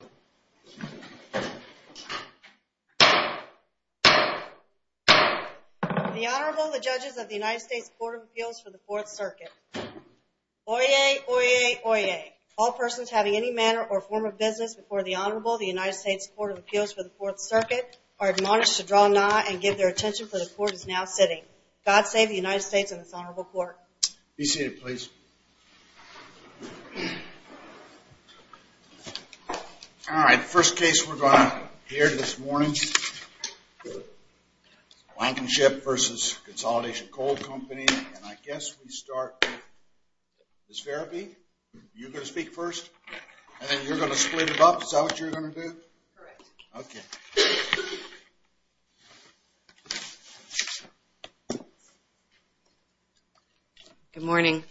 The Honorable, the Judges of the United States Court of Appeals for the Fourth Circuit. Oyez! Oyez! Oyez! All persons having any manner or form of business before the Honorable, the United States Court of Appeals for the Fourth Circuit, are admonished to draw nigh and give their attention, for the Court is now sitting. God save the United States and its Honorable Court. Be seated, please. All right, the first case we're going to hear this morning is Blankenship v. Consolidation Coal Company, and I guess we start with Ms. Farabee. You're going to speak first, and then you're going to split it up. Is that what you're going to do? Correct. Okay. Good morning.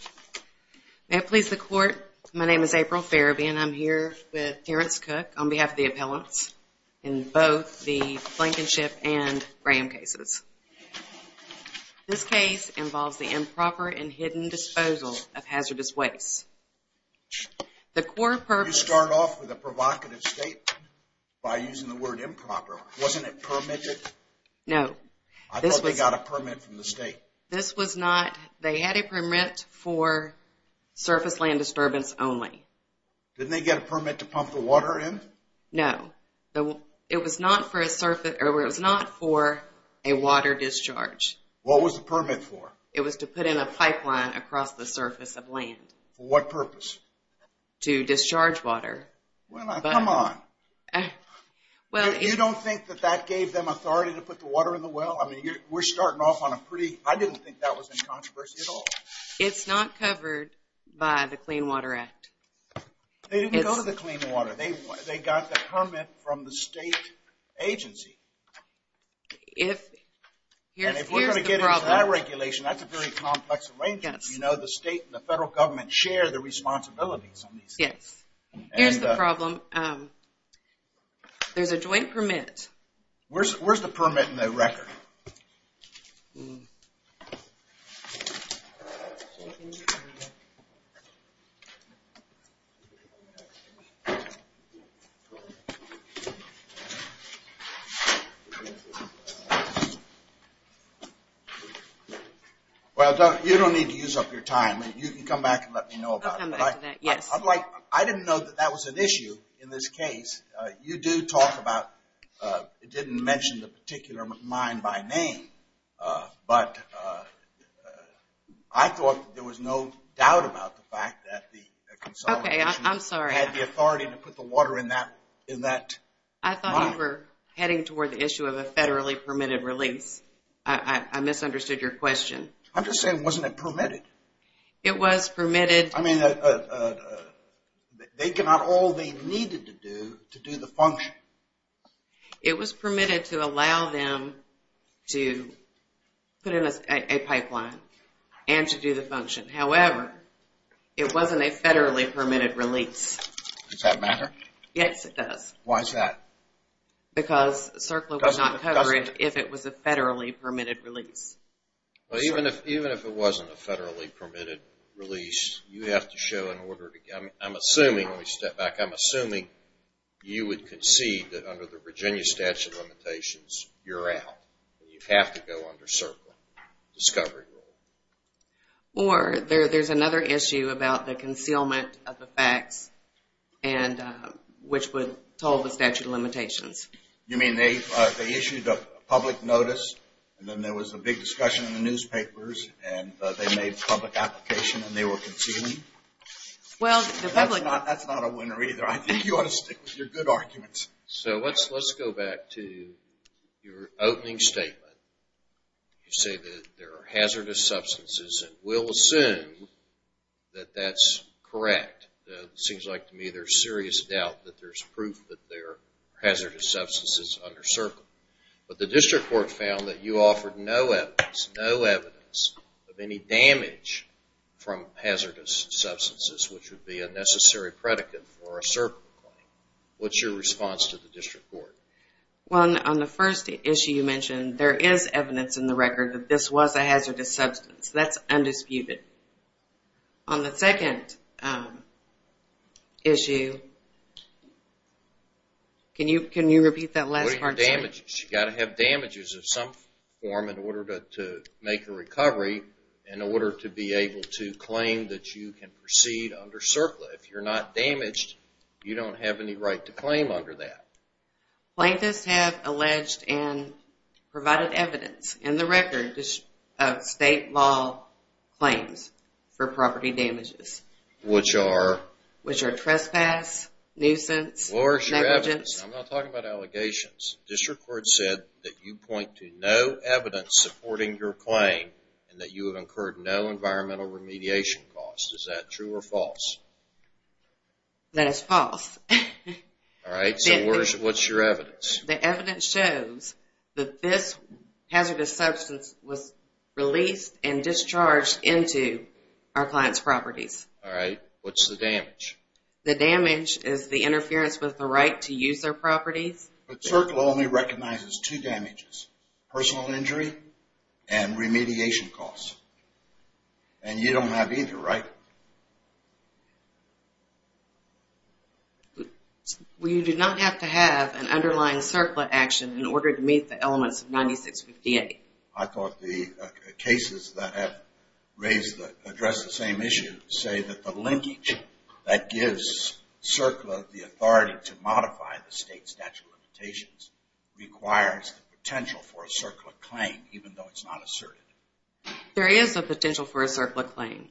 May it please the Court, my name is April Farabee, and I'm here with Terrence Cook on behalf of the appellants in both the Blankenship and Graham cases. This case involves the improper and hidden disposal of hazardous waste. You start off with a provocative statement by using the word improper. Wasn't it permitted? No. I thought they got a permit from the state. This was not. They had a permit for surface land disturbance only. Didn't they get a permit to pump the water in? No. It was not for a water discharge. What was the permit for? It was to put in a pipeline across the surface of land. For what purpose? To discharge water. Well, come on. You don't think that that gave them authority to put the water in the well? I mean, we're starting off on a pretty, I didn't think that was in controversy at all. It's not covered by the Clean Water Act. They didn't go to the Clean Water. They got the permit from the state agency. And if we're going to get into that regulation, that's a very complex arrangement. You know, the state and the federal government share the responsibilities on these things. Yes. Here's the problem. There's a joint permit. Where's the permit in the record? Well, you don't need to use up your time. You can come back and let me know about it. I'll come back to that, yes. I didn't know that that was an issue in this case. You do talk about, you didn't mention the particular mine by name. But I thought there was no doubt about the fact that the consolidation had the authority to put the water in that mine. I thought you were heading toward the issue of a federally permitted release. I misunderstood your question. I'm just saying, wasn't it permitted? It was permitted. I mean, they got all they needed to do to do the function. It was permitted to allow them to put in a pipeline and to do the function. However, it wasn't a federally permitted release. Does that matter? Yes, it does. Why is that? Because CERCLA would not cover it if it was a federally permitted release. Even if it wasn't a federally permitted release, you have to show an order. I'm assuming, let me step back, I'm assuming you would concede that under the Virginia statute of limitations, you're out. You have to go under CERCLA discovery rule. Or there's another issue about the concealment of the facts, which would toll the statute of limitations. You mean they issued a public notice, and then there was a big discussion in the newspapers, and they made a public application, and they were concealing? That's not a winner either. I think you ought to stick with your good arguments. So let's go back to your opening statement. You say that there are hazardous substances, and we'll assume that that's correct. It seems like to me there's serious doubt that there's proof that there are hazardous substances under CERCLA. But the district court found that you offered no evidence, no evidence of any damage from hazardous substances, which would be a necessary predicate for a CERCLA claim. What's your response to the district court? Well, on the first issue you mentioned, there is evidence in the record that this was a hazardous substance. That's undisputed. On the second issue, can you repeat that last part? What are your damages? You've got to have damages of some form in order to make a recovery, in order to be able to claim that you can proceed under CERCLA. If you're not damaged, you don't have any right to claim under that. Plaintiffs have alleged and provided evidence in the record of state law claims for property damages. Which are? Which are trespass, nuisance, negligence. Where is your evidence? I'm not talking about allegations. District court said that you point to no evidence supporting your claim, and that you have incurred no environmental remediation costs. Is that true or false? That is false. Alright, so what's your evidence? The evidence shows that this hazardous substance was released and discharged into our client's properties. Alright, what's the damage? The damage is the interference with the right to use their properties. But CERCLA only recognizes two damages, personal injury and remediation costs. And you don't have either, right? We do not have to have an underlying CERCLA action in order to meet the elements of 96-58. I thought the cases that have addressed the same issue say that the linkage that gives CERCLA the authority to modify the state statute of limitations requires the potential for a CERCLA claim, even though it's not asserted. There is a potential for a CERCLA claim.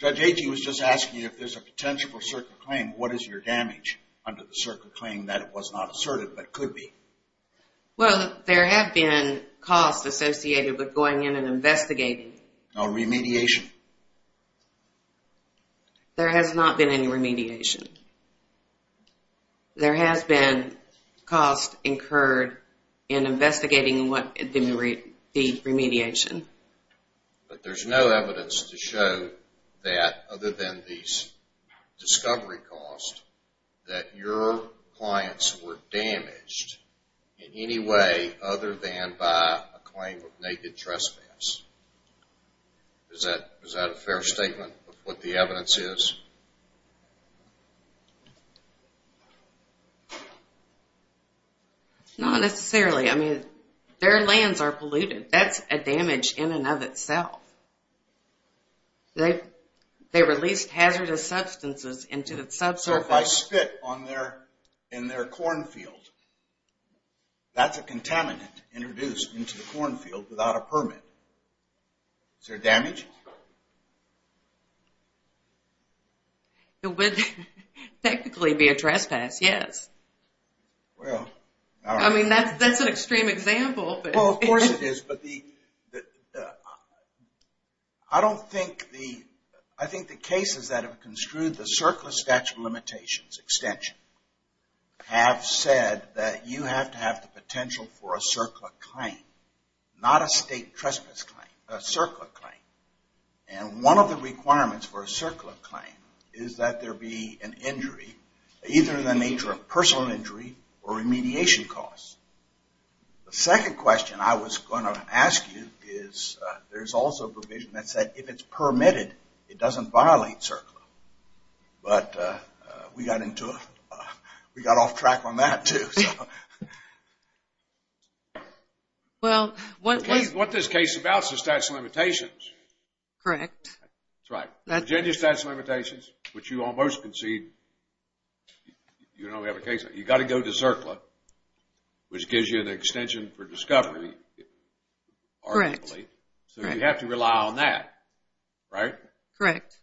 Judge Agee was just asking if there's a potential for a CERCLA claim, what is your damage under the CERCLA claim that it was not asserted but could be? Well, there have been costs associated with going in and investigating. No remediation? There has not been any remediation. There has been costs incurred in investigating the remediation. But there's no evidence to show that, other than these discovery costs, that your clients were damaged in any way other than by a claim of naked trespass. Is that a fair statement of what the evidence is? Not necessarily. I mean, their lands are polluted. That's a damage in and of itself. They released hazardous substances into the subsurface. So if I spit in their cornfield, that's a contaminant introduced into the cornfield without a permit. Is there damage? There would technically be a trespass, yes. Well, all right. I mean, that's an extreme example. Well, of course it is. But I don't think the cases that have construed the CERCLA statute of limitations extension have said that you have to have the potential for a CERCLA claim, not a state trespass claim, a CERCLA claim. And one of the requirements for a CERCLA claim is that there be an injury, either in the nature of personal injury or remediation costs. The second question I was going to ask you is there's also a provision that said if it's permitted, it doesn't violate CERCLA. But we got off track on that, too. Well, what this case is about is the statute of limitations. Correct. That's right. Virginia statute of limitations, which you almost concede. You know we have a case like that. You've got to go to CERCLA, which gives you an extension for discovery. Correct. So you have to rely on that, right? Correct.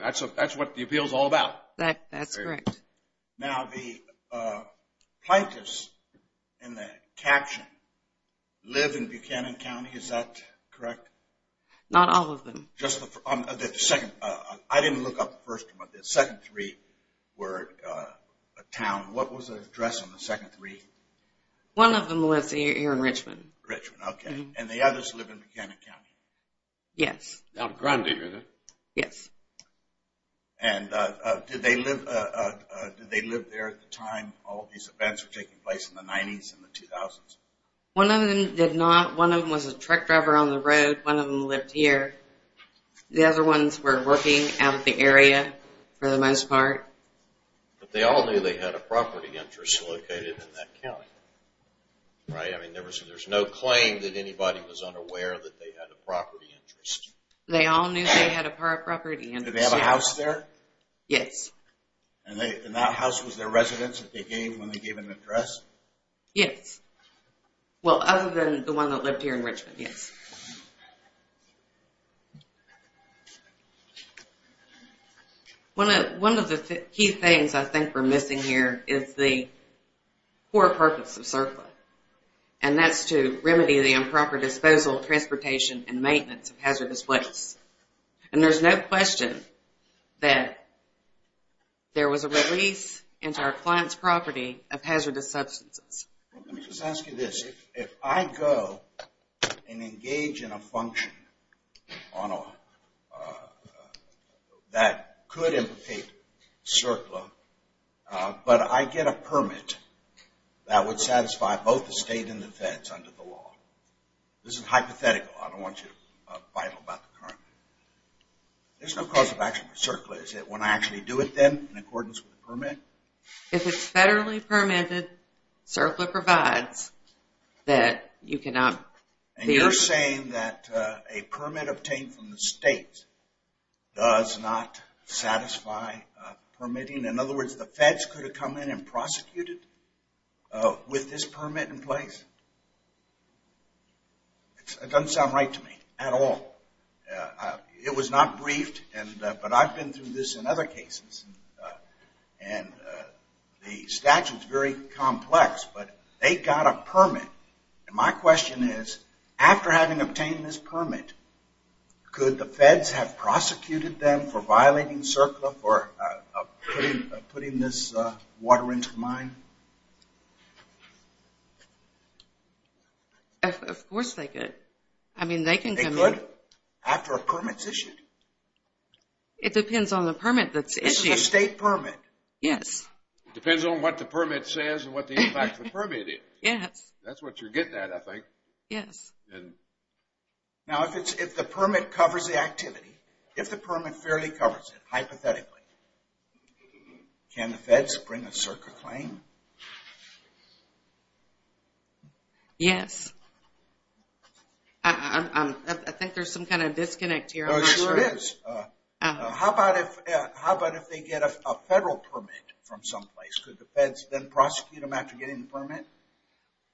That's what the appeal is all about. That's correct. Now, the plaintiffs in the caption live in Buchanan County. Is that correct? Not all of them. Just the second. I didn't look up the first one. The second three were a town. What was the address on the second three? One of them was here in Richmond. Richmond, okay. And the others live in Buchanan County? Yes. Albuquerque, is it? Yes. And did they live there at the time all of these events were taking place in the 90s and the 2000s? One of them did not. One of them was a truck driver on the road. One of them lived here. The other ones were working out of the area for the most part. But they all knew they had a property interest located in that county, right? I mean, there's no claim that anybody was unaware that they had a property interest. They all knew they had a property interest. Did they have a house there? Yes. And that house was their residence when they gave them an address? Yes. Well, other than the one that lived here in Richmond, yes. One of the key things I think we're missing here is the core purpose of CERCLA, and that's to remedy the improper disposal, transportation, and maintenance of hazardous waste. And there's no question that there was a release into our client's property of hazardous substances. Let me just ask you this. If I go and engage in a function that could implicate CERCLA, but I get a permit that would satisfy both the state and the feds under the law. This is hypothetical. I don't want you to fight about the current. There's no cause of action for CERCLA, is there, If it's federally permitted, CERCLA provides that you cannot. And you're saying that a permit obtained from the state does not satisfy permitting? In other words, the feds could have come in and prosecuted with this permit in place? It doesn't sound right to me at all. It was not briefed, but I've been through this in other cases. And the statute's very complex, but they got a permit. And my question is, after having obtained this permit, could the feds have prosecuted them for violating CERCLA for putting this water into the mine? Of course they could. I mean, they can come in. They could, after a permit's issued. It depends on the permit that's issued. This is a state permit. Yes. It depends on what the permit says and what the impact of the permit is. Yes. That's what you're getting at, I think. Yes. Now, if the permit covers the activity, if the permit fairly covers it, hypothetically, can the feds bring a CERCLA claim? Yes. I think there's some kind of disconnect here. Yes, there is. How about if they get a federal permit from someplace? Could the feds then prosecute them after getting the permit?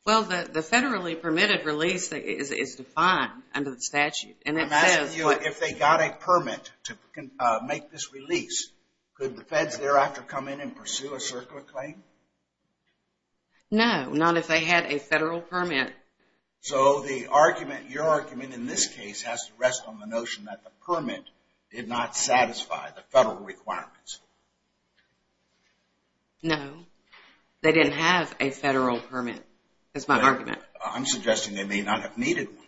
Well, the federally permitted release is defined under the statute. I'm asking you, if they got a permit to make this release, could the feds thereafter come in and pursue a CERCLA claim? No, not if they had a federal permit. So, the argument, your argument in this case has to rest on the notion that the permit did not satisfy the federal requirements. No. They didn't have a federal permit. That's my argument. I'm suggesting they may not have needed one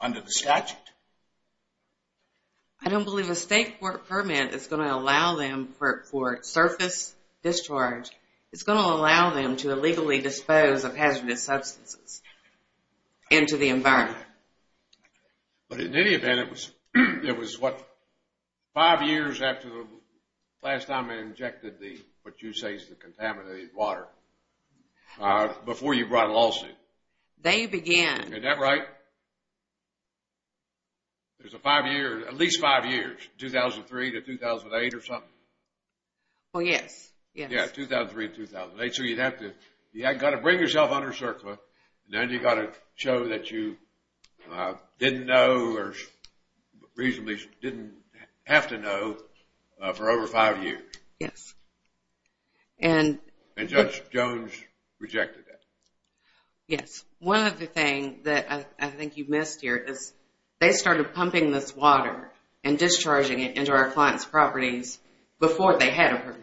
under the statute. I don't believe a state court permit is going to allow them for surface discharge. It's going to allow them to illegally dispose of hazardous substances into the environment. But in any event, it was what, five years after the last time they injected the, what you say is the contaminated water, before you brought a lawsuit? They began. Is that right? There's a five year, at least five years, 2003 to 2008 or something? Well, yes. Yeah, 2003 to 2008. So, you'd have to, you've got to bring yourself under CERCLA, and then you've got to show that you didn't know, or reasonably didn't have to know for over five years. Yes. And Judge Jones rejected that. Yes. One other thing that I think you missed here is they started pumping this water and discharging it into our client's properties before they had a permit.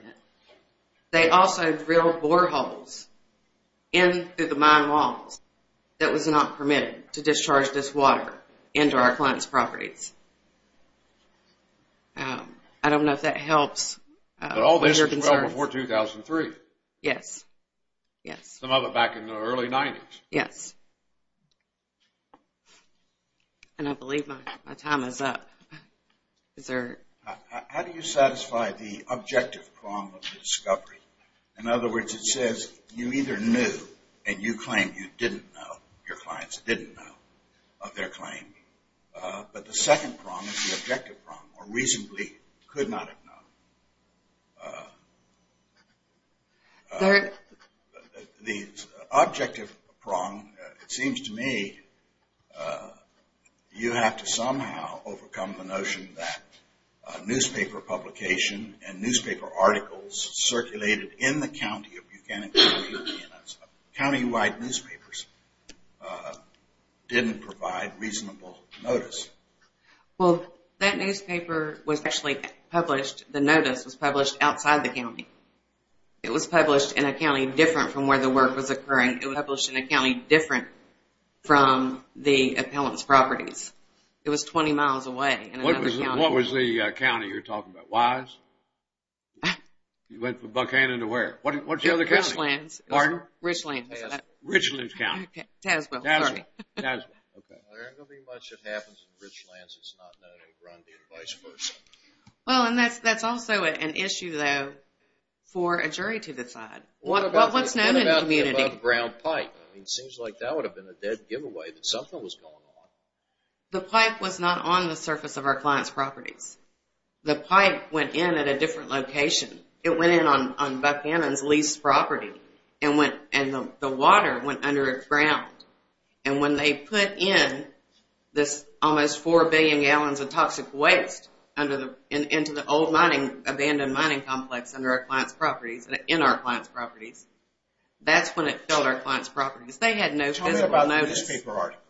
They also drilled boreholes in through the mine walls that was not permitted to discharge this water into our client's properties. I don't know if that helps with your concerns. But all this was well before 2003. Yes, yes. Some of it back in the early 90s. Yes. And I believe my time is up. Is there? How do you satisfy the objective prong of the discovery? In other words, it says you either knew, and you claim you didn't know, your clients didn't know of their claim. But the second prong is the objective prong, or reasonably could not have known. Third. The objective prong, it seems to me, you have to somehow overcome the notion that newspaper publication and newspaper articles circulated in the county of Buchanan County, county-wide newspapers, didn't provide reasonable notice. Well, that newspaper was actually published, the notice was published outside the county. It was published in a county different from where the work was occurring. It was published in a county different from the appellant's properties. It was 20 miles away in another county. What was the county you're talking about? Wise? You went from Buchanan to where? What's the other county? Richlands. Pardon? Richlands. Richlands County. Tazewell, sorry. Tazewell, okay. There ain't going to be much that happens in Richlands that's not known in Grundy, and vice versa. Well, and that's also an issue, though, for a jury to decide. What about the above-ground pipe? It seems like that would have been a dead giveaway that something was going on. The pipe was not on the surface of our client's properties. The pipe went in at a different location. It went in on Buchanan's leased property, and the water went under its ground. And when they put in this almost 4 billion gallons of toxic waste into the old mining, abandoned mining complex under our client's properties, in our client's properties, that's when it filled our client's properties. They had no physical notice. Tell me about the newspaper articles.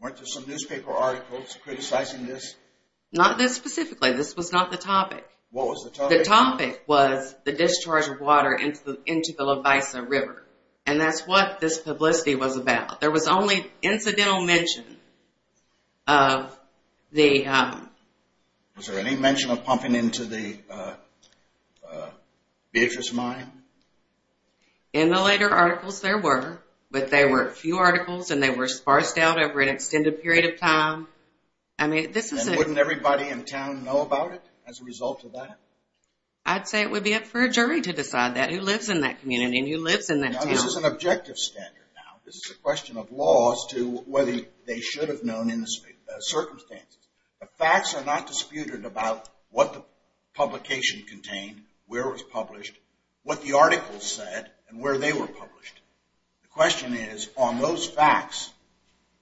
Weren't there some newspaper articles criticizing this? Not this specifically. This was not the topic. What was the topic? The topic was the discharge of water into the Levisa River, and that's what this publicity was about. There was only incidental mention of the... Was there any mention of pumping into the Beatrice Mine? In the later articles, there were, but there were few articles, and they were sparsed out over an extended period of time. I mean, this is a... And wouldn't everybody in town know about it as a result of that? I'd say it would be up for a jury to decide that, who lives in that community and who lives in that town. Now, this is an objective standard now. This is a question of laws to whether they should have known in the circumstances. The facts are not disputed about what the publication contained, where it was published, what the articles said, and where they were published. The question is, on those facts,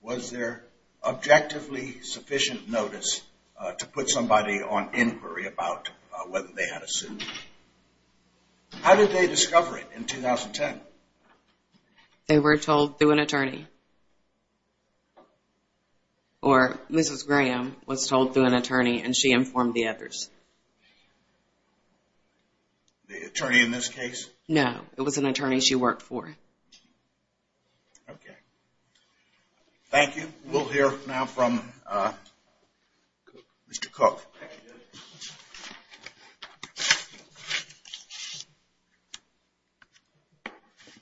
was there objectively sufficient notice to put somebody on inquiry about whether they had a suit? How did they discover it in 2010? They were told through an attorney. Or Mrs. Graham was told through an attorney, and she informed the others. The attorney in this case? No, it was an attorney she worked for. Okay. Thank you. We'll hear now from Mr. Cook.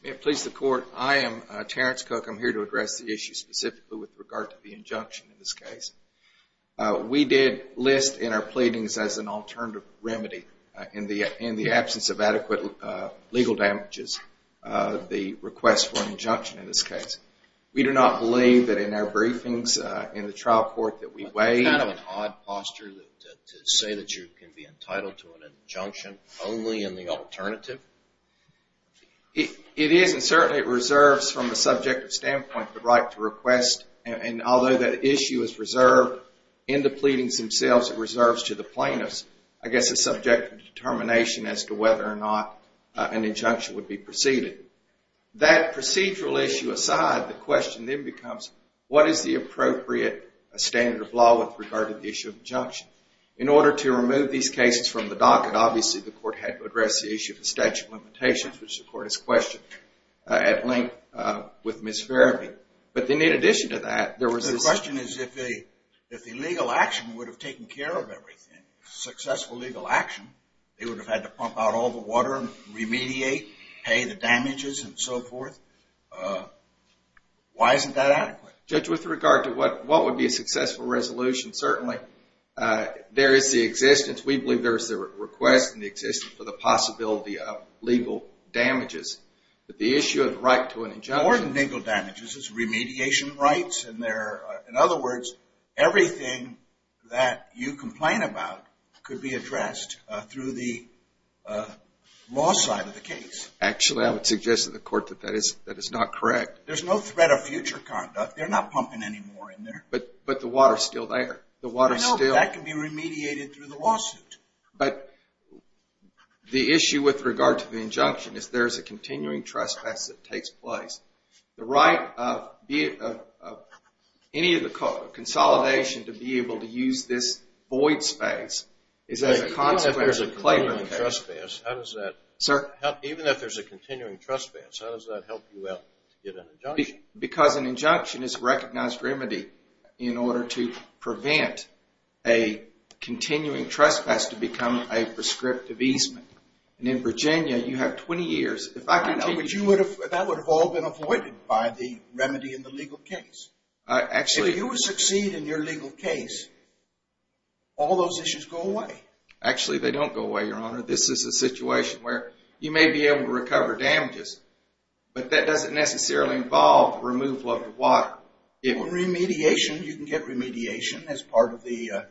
May it please the Court, I am Terrence Cook. I'm here to address the issue specifically with regard to the injunction in this case. We did list in our pleadings as an alternative remedy, in the absence of adequate legal damages, the request for an injunction in this case. We do not believe that in our briefings in the trial court that we weighed Kind of an odd posture to say that you can be entitled to an injunction only in the alternative. It is, and certainly it reserves from a subjective standpoint the right to request, and although that issue is reserved in the pleadings themselves, it reserves to the plaintiffs, I guess, a subjective determination as to whether or not an injunction would be proceeded. That procedural issue aside, the question then becomes, what is the appropriate standard of law with regard to the issue of injunction? In order to remove these cases from the docket, obviously the Court had to address the issue of the statute of limitations, which the Court has questioned, at length with Ms. Farabee. But then in addition to that, there was this The question is if the legal action would have taken care of everything, successful legal action, they would have had to pump out all the water and remediate, pay the damages and so forth. Why isn't that adequate? Judge, with regard to what would be a successful resolution, certainly there is the existence, we believe there is the request and the existence for the possibility of legal damages. But the issue of the right to an injunction More than legal damages, it's remediation rights. In other words, everything that you complain about could be addressed through the law side of the case. Actually, I would suggest to the Court that that is not correct. There's no threat of future conduct. They're not pumping any more in there. But the water is still there. I know, but that can be remediated through the lawsuit. But the issue with regard to the injunction is there is a continuing trespass that takes place. The right of any of the consolidation to be able to use this void space is as a consequence of claiming the case. Even if there's a continuing trespass, how does that help you out to get an injunction? Because an injunction is a recognized remedy in order to prevent a continuing trespass to become a prescriptive easement. And in Virginia, you have 20 years. That would have all been avoided by the remedy in the legal case. If you would succeed in your legal case, all those issues go away. Actually, they don't go away, Your Honor. This is a situation where you may be able to recover damages, but that doesn't necessarily involve removal of the water. Remediation, you can get remediation as part of the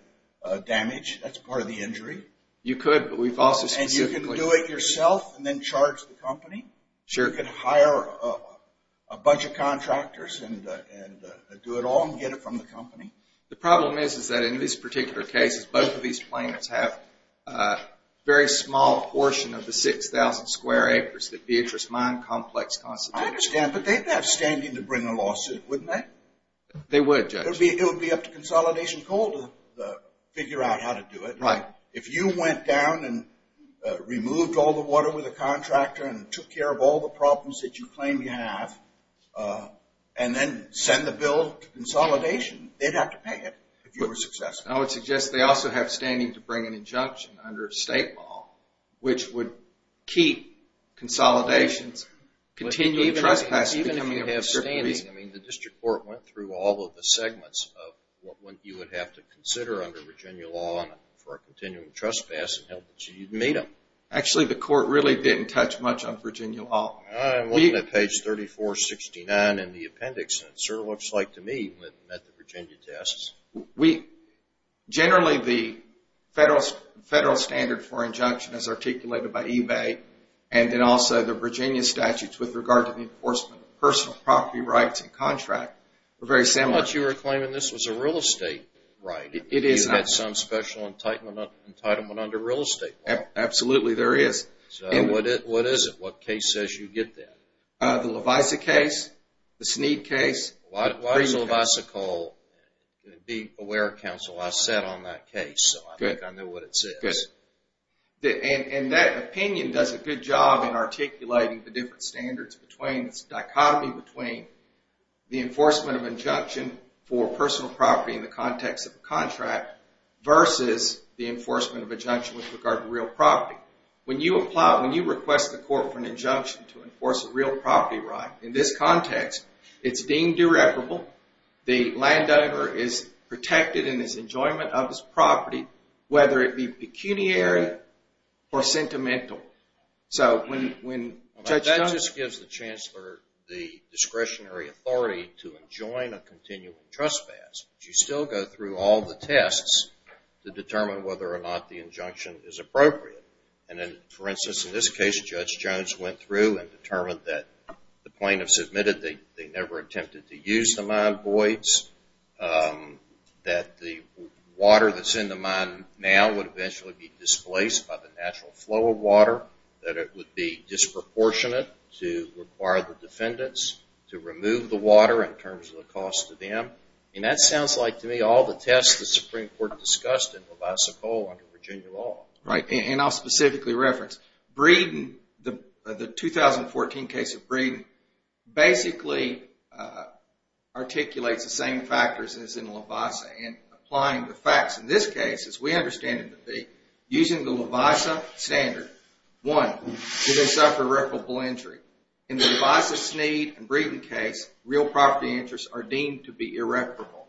damage. That's part of the injury. You could, but we've also specifically You could do it yourself and then charge the company. Sure. You could hire a bunch of contractors and do it all and get it from the company. The problem is, is that in this particular case, both of these plaintiffs have a very small portion of the 6,000 square acres that Beatrice Mine Complex constitutes. I understand, but they'd have standing to bring a lawsuit, wouldn't they? They would, Judge. It would be up to Consolidation Coal to figure out how to do it. Right. If you went down and removed all the water with a contractor and took care of all the problems that you claim you have, and then send the bill to Consolidation, they'd have to pay it if you were successful. I would suggest they also have standing to bring an injunction under state law, which would keep Consolidations continually trespassing. Even if you have standing, I mean, the district court went through all of the segments of what you would have to consider under Virginia law for a continuing trespass and helped you meet them. Actually, the court really didn't touch much on Virginia law. I'm looking at page 3469 in the appendix, and it sort of looks like to me it met the Virginia tests. Generally, the federal standard for injunction is articulated by eBay, and then also the Virginia statutes with regard to the enforcement of personal property rights and contract are very similar. I thought you were claiming this was a real estate. Right. It is not. You had some special entitlement under real estate law. Absolutely, there is. What is it? What case says you get that? The Levisa case, the Sneed case. Why is Levisa called? Be aware, counsel, I sat on that case, so I think I know what it says. Good. And that opinion does a good job in articulating the different standards, the dichotomy between the enforcement of injunction for personal property in the context of a contract versus the enforcement of injunction with regard to real property. When you request the court for an injunction to enforce a real property right in this context, it's deemed irreparable, the landowner is protected in his enjoyment of his property, whether it be pecuniary or sentimental. That just gives the chancellor the discretionary authority to enjoin a continuing trespass, but you still go through all the tests to determine whether or not the injunction is appropriate. For instance, in this case, Judge Jones went through and determined that the plaintiffs admitted they never attempted to use the mine voids, that the water that's in the mine now would eventually be displaced by the natural flow of water, that it would be disproportionate to require the defendants to remove the water in terms of the cost to them. And that sounds like to me all the tests the Supreme Court discussed in Levisa Cole under Virginia law. Right, and I'll specifically reference Breeden, the 2014 case of Breeden, basically articulates the same factors as in Levisa, and applying the facts in this case, as we understand it to be, using the Levisa standard, one, do they suffer irreparable injury? In the Levisa, Sneed, and Breeden case, real property interests are deemed to be irreparable.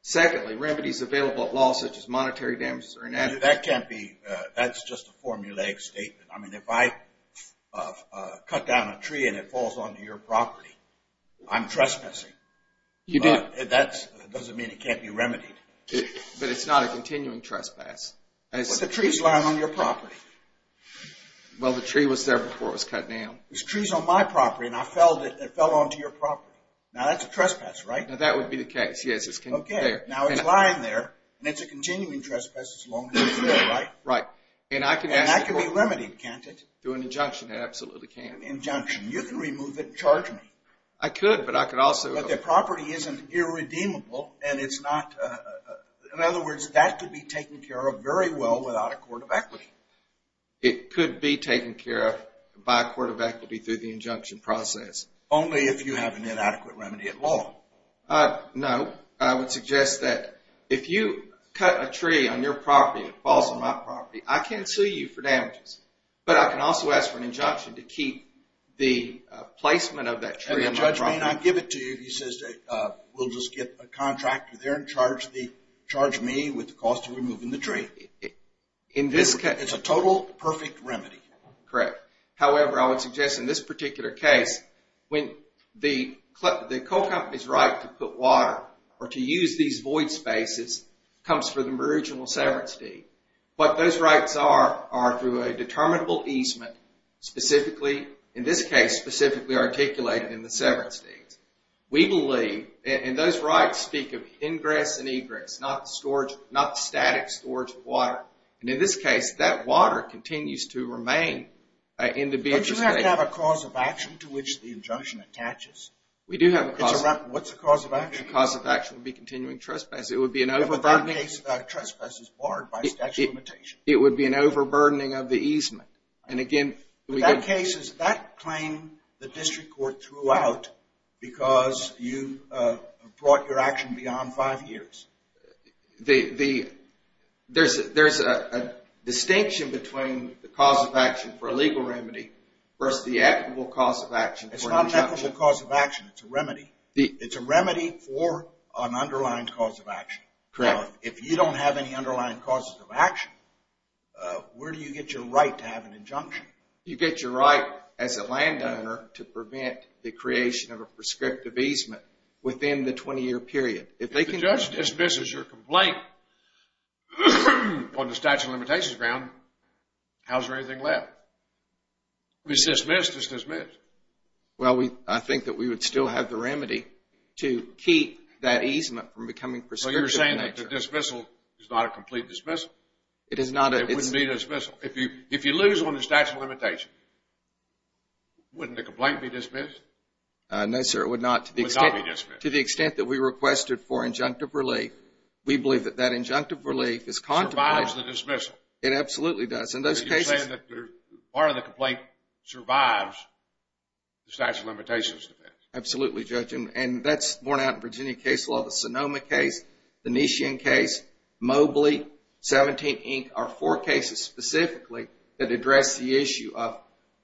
Secondly, remedies available at law such as monetary damages are inadequate. That can't be, that's just a formulaic statement. I mean, if I cut down a tree and it falls onto your property, I'm trespassing. That doesn't mean it can't be remedied. But it's not a continuing trespass. But the tree's lying on your property. Well, the tree was there before it was cut down. The tree's on my property, and I felled it, and it fell onto your property. Now, that's a trespass, right? Now, that would be the case, yes. Okay, now it's lying there, and it's a continuing trespass as long as it's there, right? Right. And that can be limited, can't it? Through an injunction, it absolutely can. An injunction. You can remove it and charge me. I could, but I could also... The property isn't irredeemable, and it's not... In other words, that could be taken care of very well without a court of equity. It could be taken care of by a court of equity through the injunction process. Only if you have an inadequate remedy at law. No. I would suggest that if you cut a tree on your property and it falls on my property, I can sue you for damages. But I can also ask for an injunction to keep the placement of that tree on my property. I may not give it to you if you say, we'll just get a contractor there and charge me with the cost of removing the tree. In this case... It's a total perfect remedy. Correct. However, I would suggest in this particular case, the co-company's right to put water or to use these void spaces comes from the original severance deed. What those rights are, are through a determinable easement. Specifically, in this case, specifically articulated in the severance deed. We believe, and those rights speak of ingress and egress, not the static storage of water. And in this case, that water continues to remain in the... Don't you have to have a cause of action to which the injunction attaches? We do have a cause of action. What's the cause of action? The cause of action would be continuing trespass. It would be an overburdening... In that case, trespass is barred by statute of limitation. It would be an overburdening of the easement. And again... In that case, is that claim the district court threw out because you brought your action beyond five years? There's a distinction between the cause of action for a legal remedy versus the equitable cause of action for an injunction. It's a remedy. It's a remedy for an underlying cause of action. Correct. Now, if you don't have any underlying causes of action, where do you get your right to have an injunction? You get your right as a landowner to prevent the creation of a prescriptive easement within the 20-year period. If the judge dismisses your complaint on the statute of limitations ground, how's there anything left? If it's dismissed, it's dismissed. Well, I think that we would still have the remedy to keep that easement from becoming prescriptive. So you're saying that the dismissal is not a complete dismissal? It is not a... It wouldn't be a dismissal. If you lose on the statute of limitation, wouldn't the complaint be dismissed? No, sir, it would not. It would not be dismissed. To the extent that we requested for injunctive relief, we believe that that injunctive relief is contemplated... Survives the dismissal. It absolutely does. You're saying that part of the complaint survives the statute of limitations defense? Absolutely, Judge. And that's borne out in Virginia case law, the Sonoma case, the Nishian case, Mobley, 17, Inc. are four cases specifically that address the issue of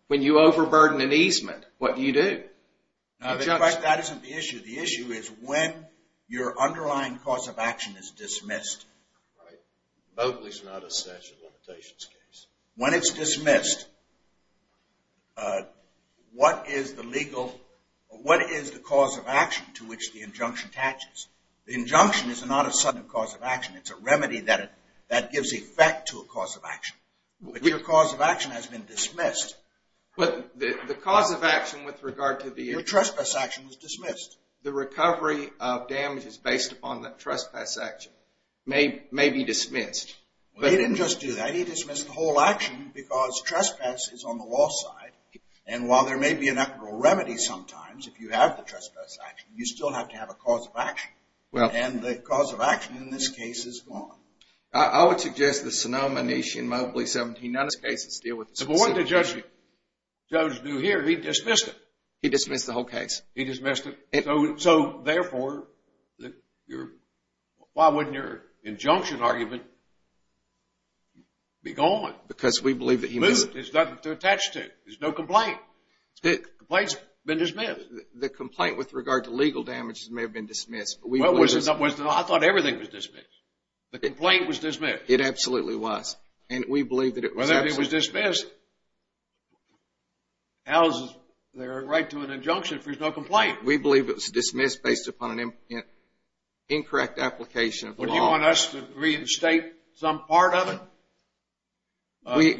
when you overburden an easement, what do you do? In fact, that isn't the issue. The issue is when your underlying cause of action is dismissed. Mobley is not a statute of limitations case. When it's dismissed, what is the legal, what is the cause of action to which the injunction attaches? The injunction is not a sudden cause of action. It's a remedy that gives effect to a cause of action. When your cause of action has been dismissed... But the cause of action with regard to the... Your trespass action was dismissed. The recovery of damages based upon the trespass action may be dismissed. He didn't just do that. He dismissed the whole action because trespass is on the law side, and while there may be an equitable remedy sometimes if you have the trespass action, you still have to have a cause of action. And the cause of action in this case is gone. I would suggest the Sonoma, Nishian, Mobley, 17, none of these cases deal with the specific... But what did the judge do here? He dismissed it. He dismissed the whole case. He dismissed it. So, therefore, why wouldn't your injunction argument be gone? Because we believe that he... Moved. It's nothing to attach to. There's no complaint. The complaint's been dismissed. The complaint with regard to legal damages may have been dismissed. I thought everything was dismissed. The complaint was dismissed. It absolutely was. And we believe that it was absolutely dismissed. How is there a right to an injunction if there's no complaint? We believe it was dismissed based upon an incorrect application of the law. Would you want us to reinstate some part of it?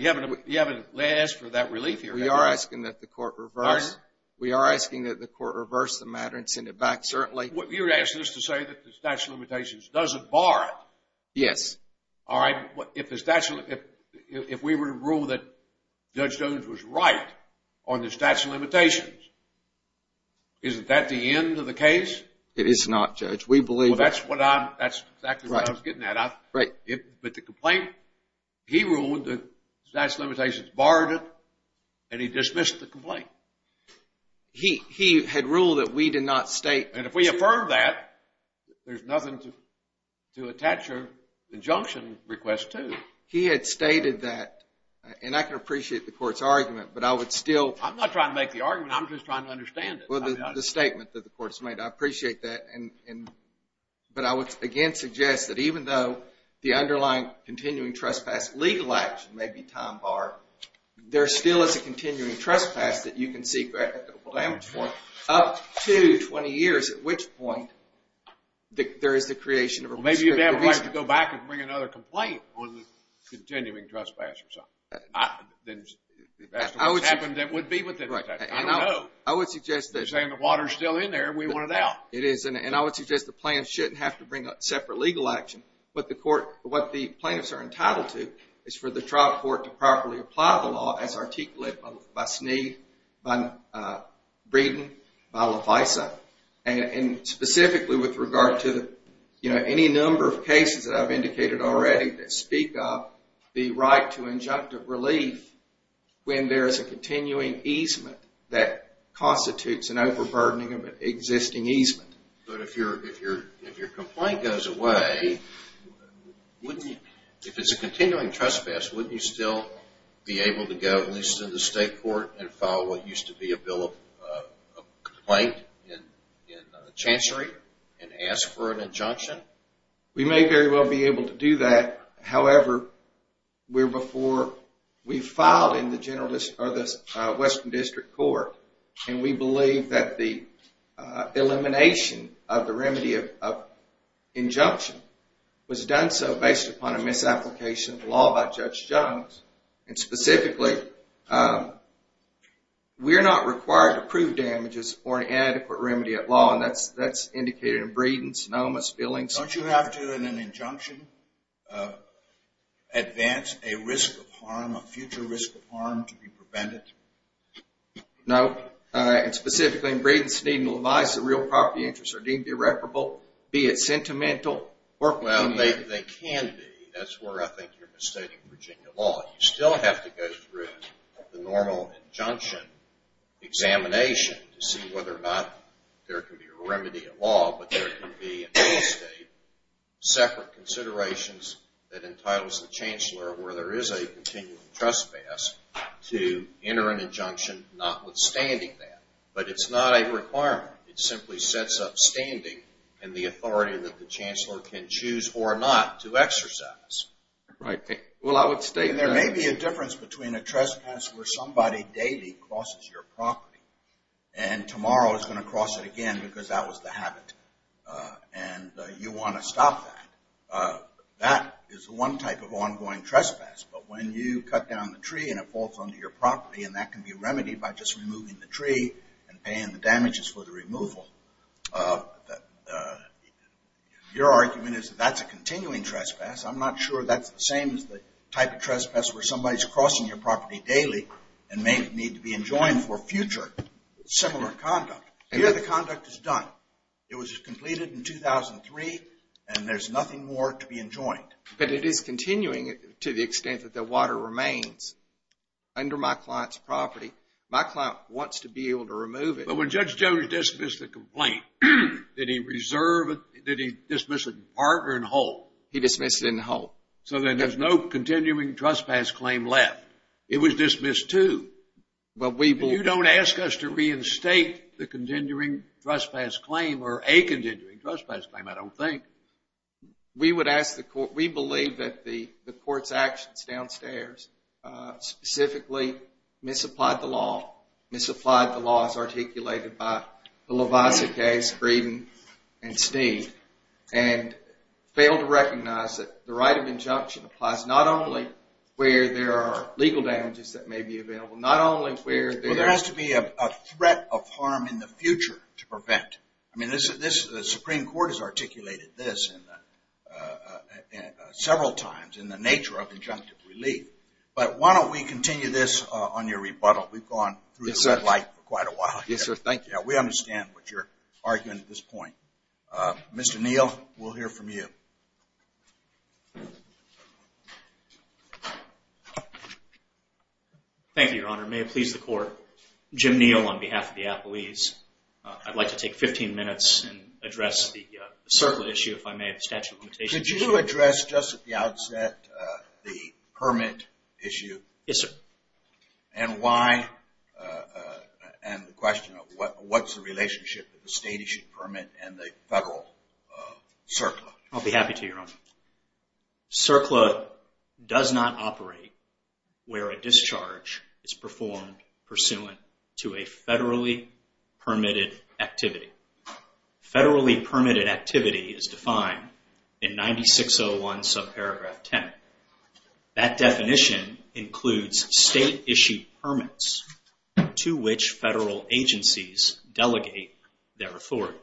You haven't asked for that relief here, have you? We are asking that the court reverse... Pardon? We are asking that the court reverse the matter and send it back, certainly. You're asking us to say that the statute of limitations doesn't bar it. Yes. All right. If we were to rule that Judge Jones was right on the statute of limitations, isn't that the end of the case? It is not, Judge. We believe... Well, that's exactly what I was getting at. Right. But the complaint, he ruled that the statute of limitations barred it, and he dismissed the complaint. He had ruled that we did not state... And if we affirm that, there's nothing to attach your injunction request to. He had stated that, and I can appreciate the court's argument, but I would still... I'm not trying to make the argument. I'm just trying to understand it. Well, the statement that the court's made, I appreciate that, but I would again suggest that even though the underlying continuing trespass legal action may be time-barred, there still is a continuing trespass that you can seek equitable damage for up to 20 years, at which point there is the creation of a restricted reason. Well, maybe you'd have a right to go back and bring another complaint on the continuing trespass or something. That would be what the... I don't know. I would suggest that... You're saying the water's still in there, and we want it out. It is, and I would suggest the plaintiffs shouldn't have to bring a separate legal action. What the plaintiffs are entitled to is for the trial court to properly apply the law as articulated by Sneed, Breeden, and LaFaisa, and specifically with regard to any number of cases that I've indicated already that speak of the right to injunctive relief when there is a continuing easement that constitutes an overburdening of an existing easement. But if your complaint goes away, wouldn't you... go at least to the state court and file what used to be a bill of complaint in the chancery and ask for an injunction? We may very well be able to do that. However, we're before... We filed in the Western District Court, and we believe that the elimination of the remedy of injunction was done so based upon a misapplication of the law by Judge Jones, and specifically, we're not required to prove damages for an inadequate remedy at law, and that's indicated in Breeden's, Noma's, Billings... Don't you have to, in an injunction, advance a risk of harm, a future risk of harm to be prevented? No. And specifically, Breeden, Sneed, and LaFaisa real property interests are deemed irreparable, be it sentimental or... Well, they can be. That's where I think you're misstating Virginia law. You still have to go through the normal injunction examination to see whether or not there can be a remedy at law, but there can be, in any state, separate considerations that entitles the chancellor, where there is a continuing trespass, to enter an injunction notwithstanding that. But it's not a requirement. It simply sets up standing and the authority that the chancellor can choose or not to exercise. Right. Well, I would state that... And there may be a difference between a trespass where somebody daily crosses your property and tomorrow is going to cross it again because that was the habit and you want to stop that. That is one type of ongoing trespass, but when you cut down the tree and it falls onto your property and that can be remedied by just removing the tree and paying the damages for the removal, your argument is that that's a continuing trespass. I'm not sure that's the same as the type of trespass where somebody's crossing your property daily and may need to be enjoined for future similar conduct. Here the conduct is done. It was completed in 2003 and there's nothing more to be enjoined. But it is continuing to the extent that the water remains under my client's property. My client wants to be able to remove it. But when Judge Jones dismissed the complaint, did he dismiss it in part or in whole? He dismissed it in whole. So then there's no continuing trespass claim left. It was dismissed too. You don't ask us to reinstate the continuing trespass claim or a continuing trespass claim, I don't think. We believe that the court's actions downstairs specifically misapplied the law. Misapplied the laws articulated by the Levisa case, Breeden, and Steed, and failed to recognize that the right of injunction applies not only where there are legal damages that may be available, not only where there... Well, there has to be a threat of harm in the future to prevent. I mean, the Supreme Court has articulated this several times in the nature of injunctive relief. But why don't we continue this on your rebuttal? We've gone through the red light for quite a while here. Yes, sir. Thank you. We understand what you're arguing at this point. Mr. Neal, we'll hear from you. Thank you, Your Honor. May it please the Court, Jim Neal on behalf of the appellees. I'd like to take 15 minutes and address the circle issue, if I may, of the statute of limitations. Could you address just at the outset the permit issue? Yes, sir. And why? And the question of what's the relationship with the state-issued permit and the federal CERCLA? I'll be happy to, Your Honor. CERCLA does not operate where a discharge is performed pursuant to a federally permitted activity. Federally permitted activity is defined in 9601 subparagraph 10. That definition includes state-issued permits to which federal agencies delegate their authority.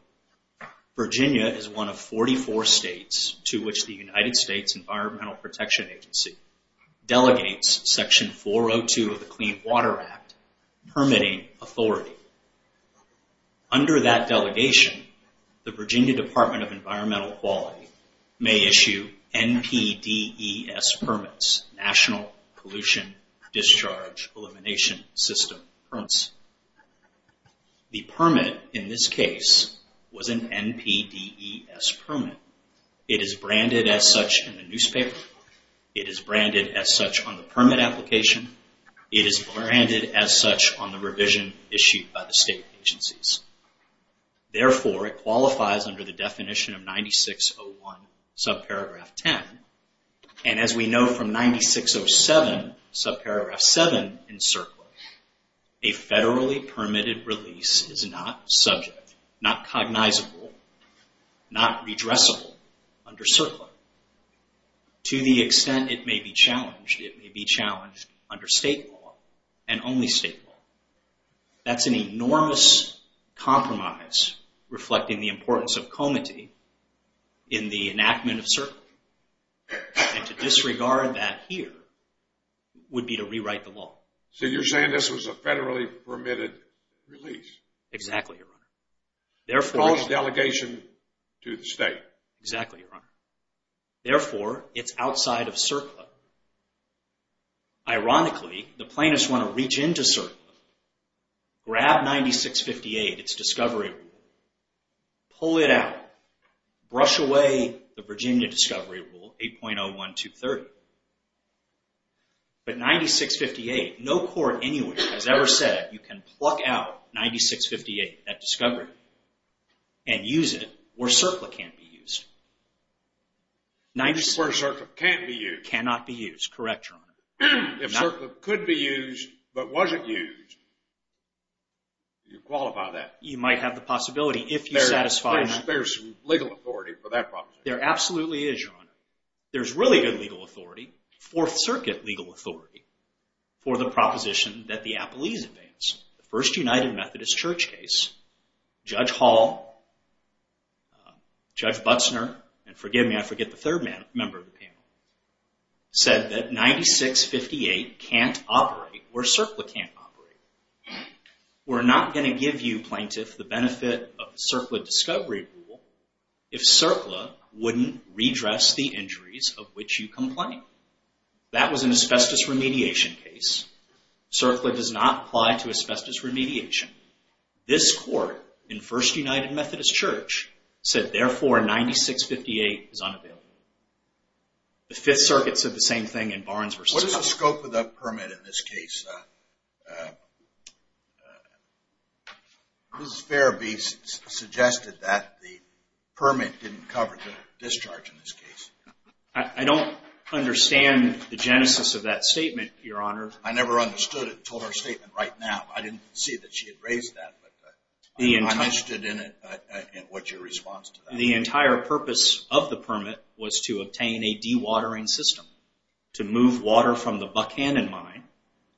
Virginia is one of 44 states to which the United States Environmental Protection Agency delegates section 402 of the Clean Water Act permitting authority. Under that delegation, the Virginia Department of Environmental Quality may issue NPDES permits, National Pollution Discharge Elimination System permits. The permit in this case was an NPDES permit. It is branded as such in the newspaper. It is branded as such on the permit application. It is branded as such on the revision issued by the state agencies. Therefore, it qualifies under the definition of 9601 subparagraph 10. And as we know from 9607 subparagraph 7 in CERCLA, a federally permitted release is not subject, not cognizable, not redressable under CERCLA. To the extent it may be challenged, it may be challenged under state law and only state law. That's an enormous compromise reflecting the importance of comity in the enactment of CERCLA. And to disregard that here would be to rewrite the law. So you're saying this was a federally permitted release? Exactly, Your Honor. It calls delegation to the state. Exactly, Your Honor. Therefore, it's outside of CERCLA. Ironically, the plaintiffs want to reach into CERCLA, grab 9658, its discovery rule, pull it out, brush away the Virginia discovery rule, 8.01230. But 9658, no court anywhere has ever said you can pluck out 9658, that discovery, and use it where CERCLA can't be used. Where CERCLA can't be used. Cannot be used, correct, Your Honor. If CERCLA could be used but wasn't used, do you qualify that? You might have the possibility if you satisfy that. There's legal authority for that proposition. There absolutely is, Your Honor. There's really good legal authority, Fourth Circuit legal authority, for the proposition that the appellees advance. The first United Methodist Church case, Judge Hall, Judge Butzner, and forgive me, I forget the third member of the panel, said that 9658 can't operate where CERCLA can't operate. We're not going to give you, plaintiff, the benefit of CERCLA discovery rule if CERCLA wouldn't redress the injuries of which you complain. That was an asbestos remediation case. CERCLA does not apply to asbestos remediation. This Court, in First United Methodist Church, said therefore 9658 is unavailable. The Fifth Circuit said the same thing in Barnes v. Coughlin. What is the scope of that permit in this case? Mrs. Farabee suggested that the permit didn't cover the discharge in this case. I don't understand the genesis of that statement, Your Honor. I never understood it until her statement right now. I didn't see that she had raised that, but I understood what your response to that was. The entire purpose of the permit was to obtain a dewatering system to move water from the Buckhannon mine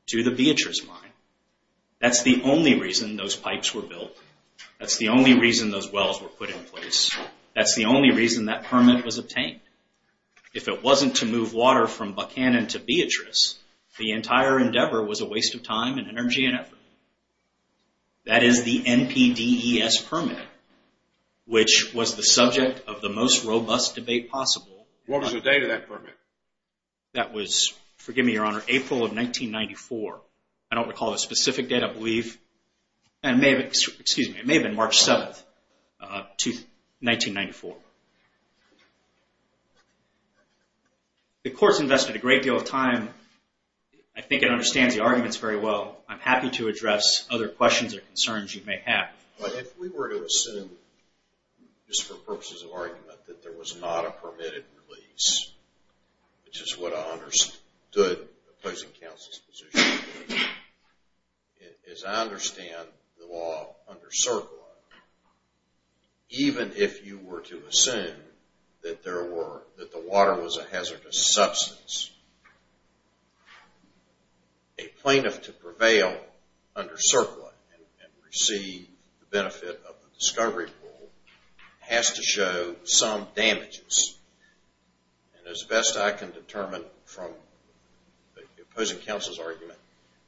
to the Beatrice mine. That's the only reason those pipes were built. That's the only reason those wells were put in place. That's the only reason that permit was obtained. If it wasn't to move water from Buckhannon to Beatrice, the entire endeavor was a waste of time and energy and effort. That is the NPDES permit, which was the subject of the most robust debate possible. What was the date of that permit? That was, forgive me, Your Honor, April of 1994. I don't recall a specific date, I believe. It may have been March 7th, 1994. The Court's invested a great deal of time. I think it understands the arguments very well. I'm happy to address other questions or concerns you may have. But if we were to assume, just for purposes of argument, that there was not a permitted release, which is what I understood opposing counsel's position, as I understand the law under Circle I, even if you were to assume that the water was a hazardous substance, a plaintiff to prevail under Circle I and receive the benefit of the discovery rule has to show some damages. And as best I can determine from opposing counsel's argument,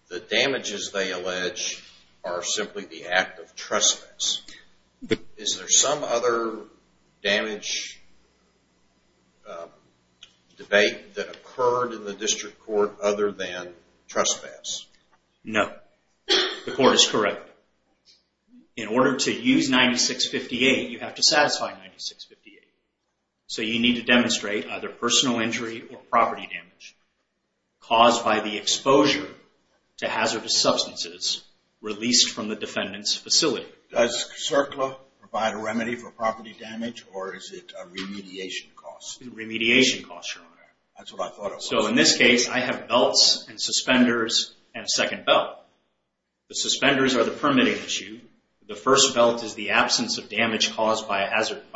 the damages they allege are simply the act of trespass. Is there some other damage debate that occurred in the District Court other than trespass? No. The Court is correct. In order to use 96-58, you have to satisfy 96-58. So you need to demonstrate either personal injury or property damage caused by the exposure to hazardous substances released from the defendant's facility. Does Circle I provide a remedy for property damage or is it a remediation cost? It's a remediation cost, Your Honor. That's what I thought it was. So in this case, I have belts and suspenders and a second belt. The suspenders are the permitting issue. The first belt is the absence of damage caused by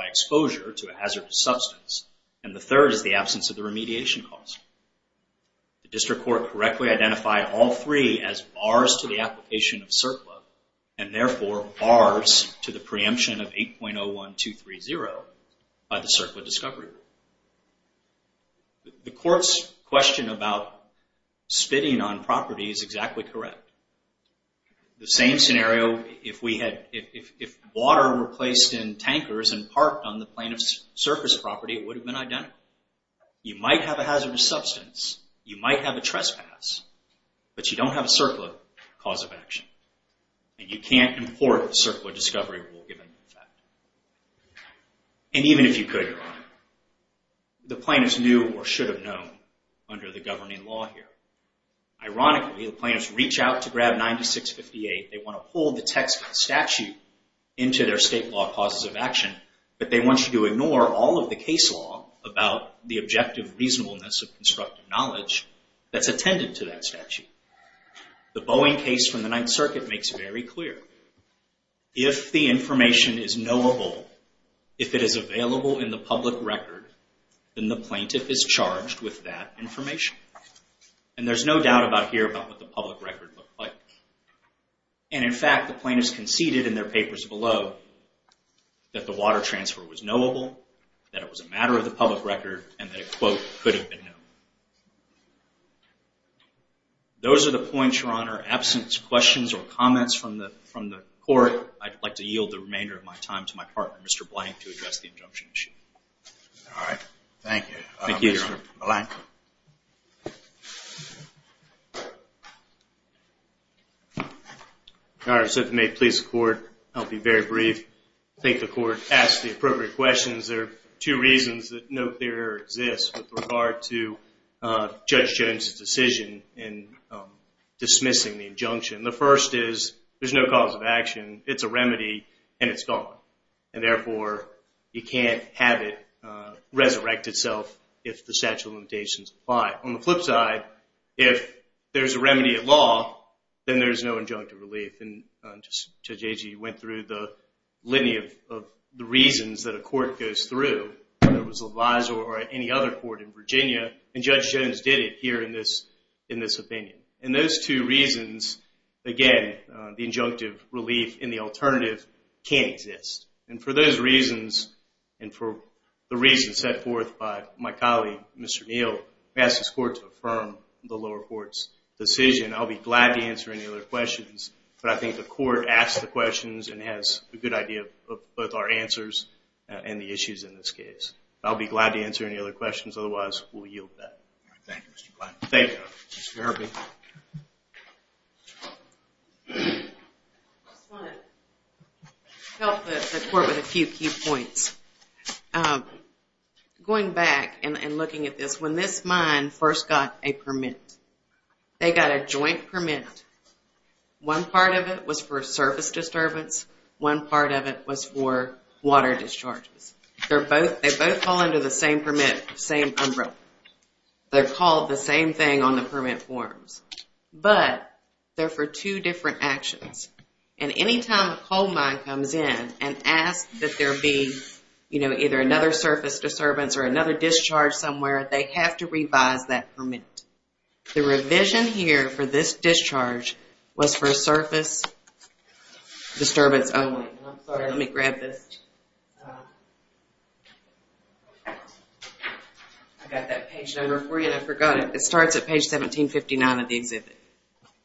exposure to a hazardous substance. And the third is the absence of the remediation cost. The District Court correctly identified all three as bars to the application of CIRCLA and therefore bars to the preemption of 8.01230 by the CIRCLA discovery rule. The Court's question about spitting on property is exactly correct. The same scenario, if water were placed in tankers and parked on the plaintiff's surface property, it would have been identical. You might have a hazardous substance, you might have a trespass, but you don't have a CIRCLA cause of action and you can't import the CIRCLA discovery rule given the fact. And even if you could, Your Honor, the plaintiff's knew or should have known under the governing law here. Ironically, the plaintiffs reach out to grab 96-58. They want to pull the text of the statute into their state law causes of action, but they want you to ignore all of the case law about the objective reasonableness of constructive knowledge that's attendant to that statute. The Boeing case from the Ninth Circuit makes it very clear. If the information is knowable, if it is available in the public record, then the plaintiff is charged with that information. And there's no doubt about here about what the public record looked like. And in fact, the plaintiffs conceded in their papers below that the water transfer was knowable, that it was a matter of the public record, and that it, quote, could have been known. Those are the points, Your Honor. Absent questions or comments from the court, I'd like to yield the remainder of my time to my partner, Mr. Blank, to address the injunction issue. All right. Thank you. Thank you, Your Honor. Mr. Blank. Your Honor, if it may please the court, I'll be very brief. I think the court asked the appropriate questions. There are two reasons that no clearer exists with regard to Judge Jones' decision in dismissing the injunction. The first is there's no cause of action. It's a remedy, and it's gone. And therefore, you can't have it resurrect itself if the statute of limitations apply. On the flip side, if there's a remedy at law, then there's no injunctive relief. And Judge Agee went through the litany of the reasons that a court goes through, whether it was LaVizor or any other court in Virginia, and Judge Jones did it here in this opinion. And those two reasons, again, the injunctive relief and the alternative can't exist. And for those reasons, and for the reasons set forth by my colleague, Mr. Neal, I ask this court to affirm the lower court's decision. I'll be glad to answer any other questions, but I think the court asked the questions and has a good idea of both our answers and the issues in this case. I'll be glad to answer any other questions. Otherwise, we'll yield to that. All right. Thank you, Mr. Blank. Thank you. Mr. Herbie. I just want to help the court with a few key points. Going back and looking at this, when this mine first got a permit, they got a joint permit. One part of it was for service disturbance. One part of it was for water discharges. They both fall under the same permit, same umbrella. They're called the same thing on the permit forms, but they're for two different actions. And any time a coal mine comes in and asks that there be, you know, either another surface disturbance or another discharge somewhere, they have to revise that permit. The revision here for this discharge was for surface disturbance only. I'm sorry. Let me grab this. I forgot it. It starts at page 1759 of the exhibit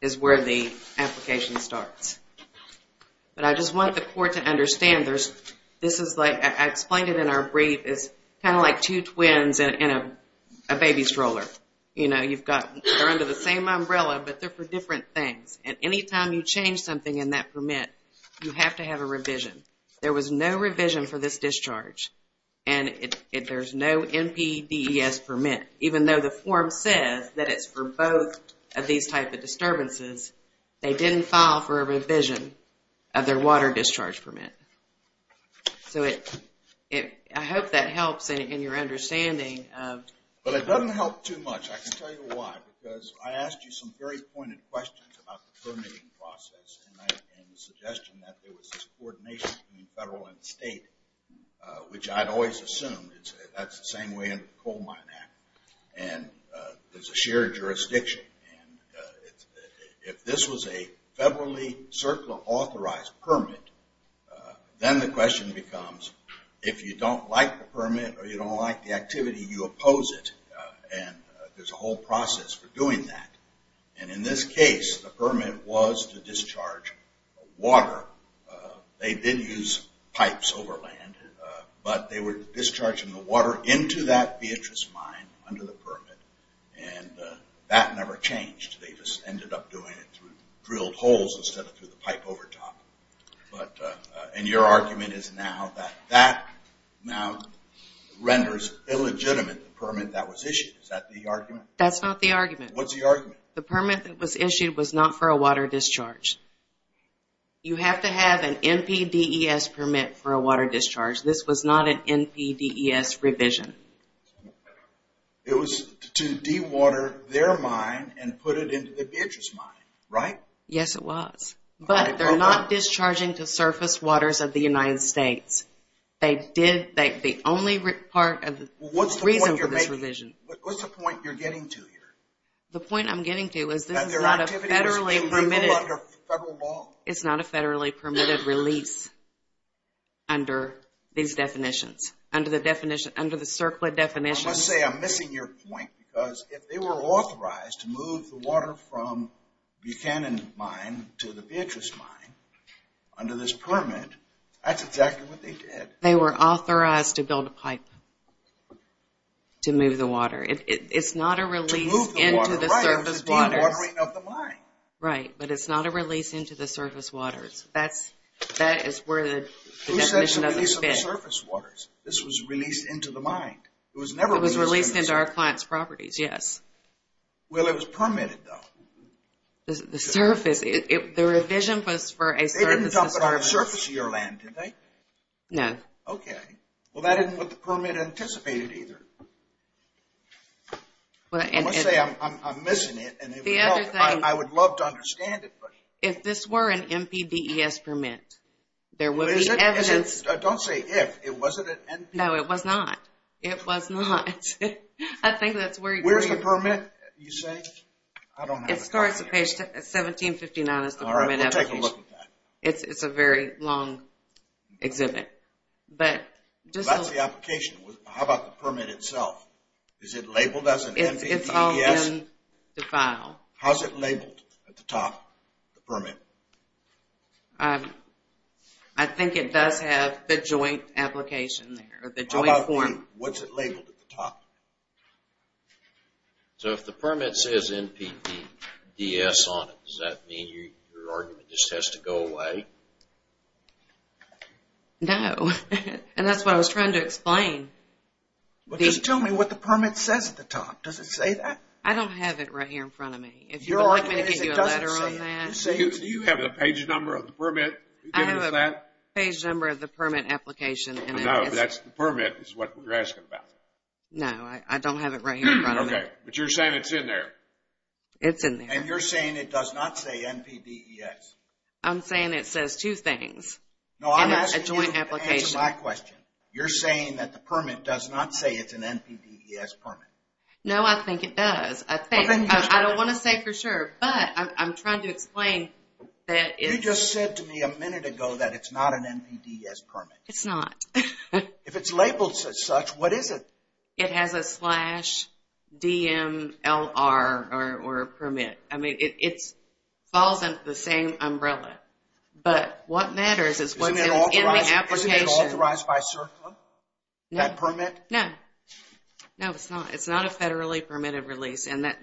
is where the application starts. But I just want the court to understand this is like ‑‑ I explained it in our brief. It's kind of like two twins in a baby stroller. You know, you've got ‑‑ they're under the same umbrella, but they're for different things. And any time you change something in that permit, you have to have a revision. There was no revision for this discharge. And there's no NPDES permit. Even though the form says that it's for both of these type of disturbances, they didn't file for a revision of their water discharge permit. So I hope that helps in your understanding of ‑‑ But it doesn't help too much. I can tell you why. Because I asked you some very pointed questions about the permitting process and the suggestion that there was this coordination between federal and state, which I'd always assumed. That's the same way under the Coal Mine Act. And there's a shared jurisdiction. If this was a federally authorized permit, then the question becomes if you don't like the permit or you don't like the activity, you oppose it. And there's a whole process for doing that. And in this case, the permit was to discharge water. They didn't use pipes over land, but they were discharging the water into that Beatrice Mine under the permit. And that never changed. They just ended up doing it through drilled holes instead of through the pipe overtop. And your argument is now that that now renders illegitimate, the permit that was issued. Is that the argument? That's not the argument. What's the argument? The permit that was issued was not for a water discharge. You have to have an NPDES permit for a water discharge. This was not an NPDES revision. It was to dewater their mine and put it into the Beatrice Mine, right? Yes, it was. But they're not discharging to surface waters of the United States. They did the only reason for this revision. What's the point you're getting to here? The point I'm getting to is this is not a federally permitted release under these definitions, under the CERCLA definitions. Let's say I'm missing your point, because if they were authorized to move the water from Buchanan Mine to the Beatrice Mine under this permit, that's exactly what they did. They were authorized to build a pipe to move the water. It's not a release into the surface waters. Right, but it's not a release into the surface waters. That is where the definition of it fits. This was released into the mine. It was released into our client's properties, yes. Well, it was permitted, though. The revision was for a surface. They didn't talk about a surface of your land, did they? No. Okay. Well, that isn't what the permit anticipated, either. Let's say I'm missing it, and I would love to understand it. If this were an MPDES permit, there would be evidence. Don't say if. It wasn't an MPDES? No, it was not. It was not. I think that's where you're going. Where's the permit, you say? I don't have it. It starts at page 1759. All right, we'll take a look at that. It's a very long exhibit. That's the application. How about the permit itself? Is it labeled as an MPDES? It's all in the file. How is it labeled at the top, the permit? I think it does have the joint application there, the joint form. What's it labeled at the top? So if the permit says MPDES on it, does that mean your argument just has to go away? No, and that's what I was trying to explain. Just tell me what the permit says at the top. Does it say that? I don't have it right here in front of me. Would you like me to give you a letter on that? Do you have the page number of the permit? I have a page number of the permit application. No, that's the permit is what you're asking about. No, I don't have it right here in front of me. Okay, but you're saying it's in there. It's in there. And you're saying it does not say MPDES? I'm saying it says two things in a joint application. No, I'm asking you to answer my question. You're saying that the permit does not say it's an MPDES permit? No, I think it does. I think. I don't want to say for sure, but I'm trying to explain that it's… You just said to me a minute ago that it's not an MPDES permit. It's not. If it's labeled as such, what is it? It has a slash DMLR or permit. I mean, it falls under the same umbrella. But what matters is what's in the application. Isn't it authorized by CERCLA? That permit? No. No, it's not. It's not a federally permitted release. The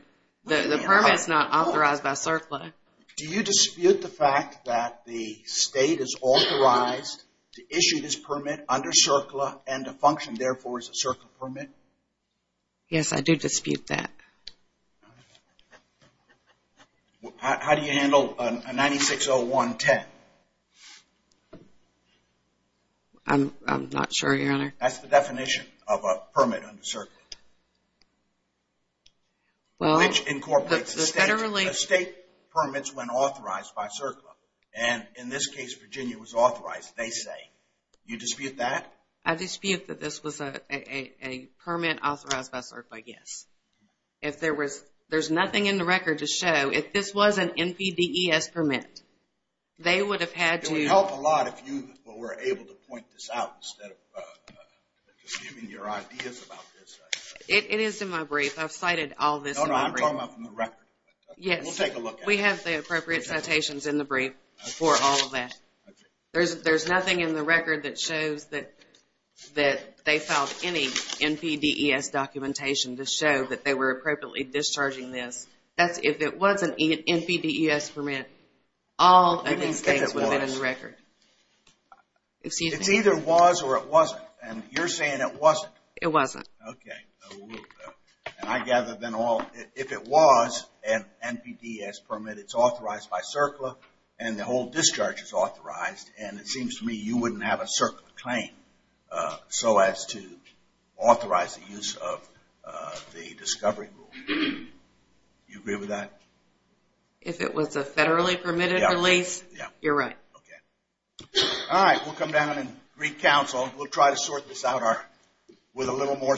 permit's not authorized by CERCLA. Do you dispute the fact that the state is authorized to issue this permit under CERCLA and to function, therefore, as a CERCLA permit? Yes, I do dispute that. How do you handle a 960110? I'm not sure, Your Honor. That's the definition of a permit under CERCLA. Which incorporates the state permits when authorized by CERCLA? And in this case, Virginia was authorized, they say. Do you dispute that? I dispute that this was a permit authorized by CERCLA, yes. If there's nothing in the record to show, if this was an NPDES permit, they would have had to. It would help a lot if you were able to point this out instead of just giving your ideas about this. It is in my brief. I've cited all this in my brief. No, no, I'm talking about from the record. Yes. We'll take a look at it. We have the appropriate citations in the brief for all of that. There's nothing in the record that shows that they filed any NPDES documentation to show that they were appropriately discharging this. If it was an NPDES permit, all of these things would have been in the record. It's either was or it wasn't, and you're saying it wasn't. It wasn't. Okay. And I gather then all, if it was an NPDES permit, it's authorized by CERCLA, and the whole discharge is authorized, and it seems to me you wouldn't have a CERCLA claim so as to authorize the use of the discovery rule. Do you agree with that? If it was a federally permitted release, you're right. Okay. All right. We'll come down and re-counsel. We'll try to sort this out with a little more study.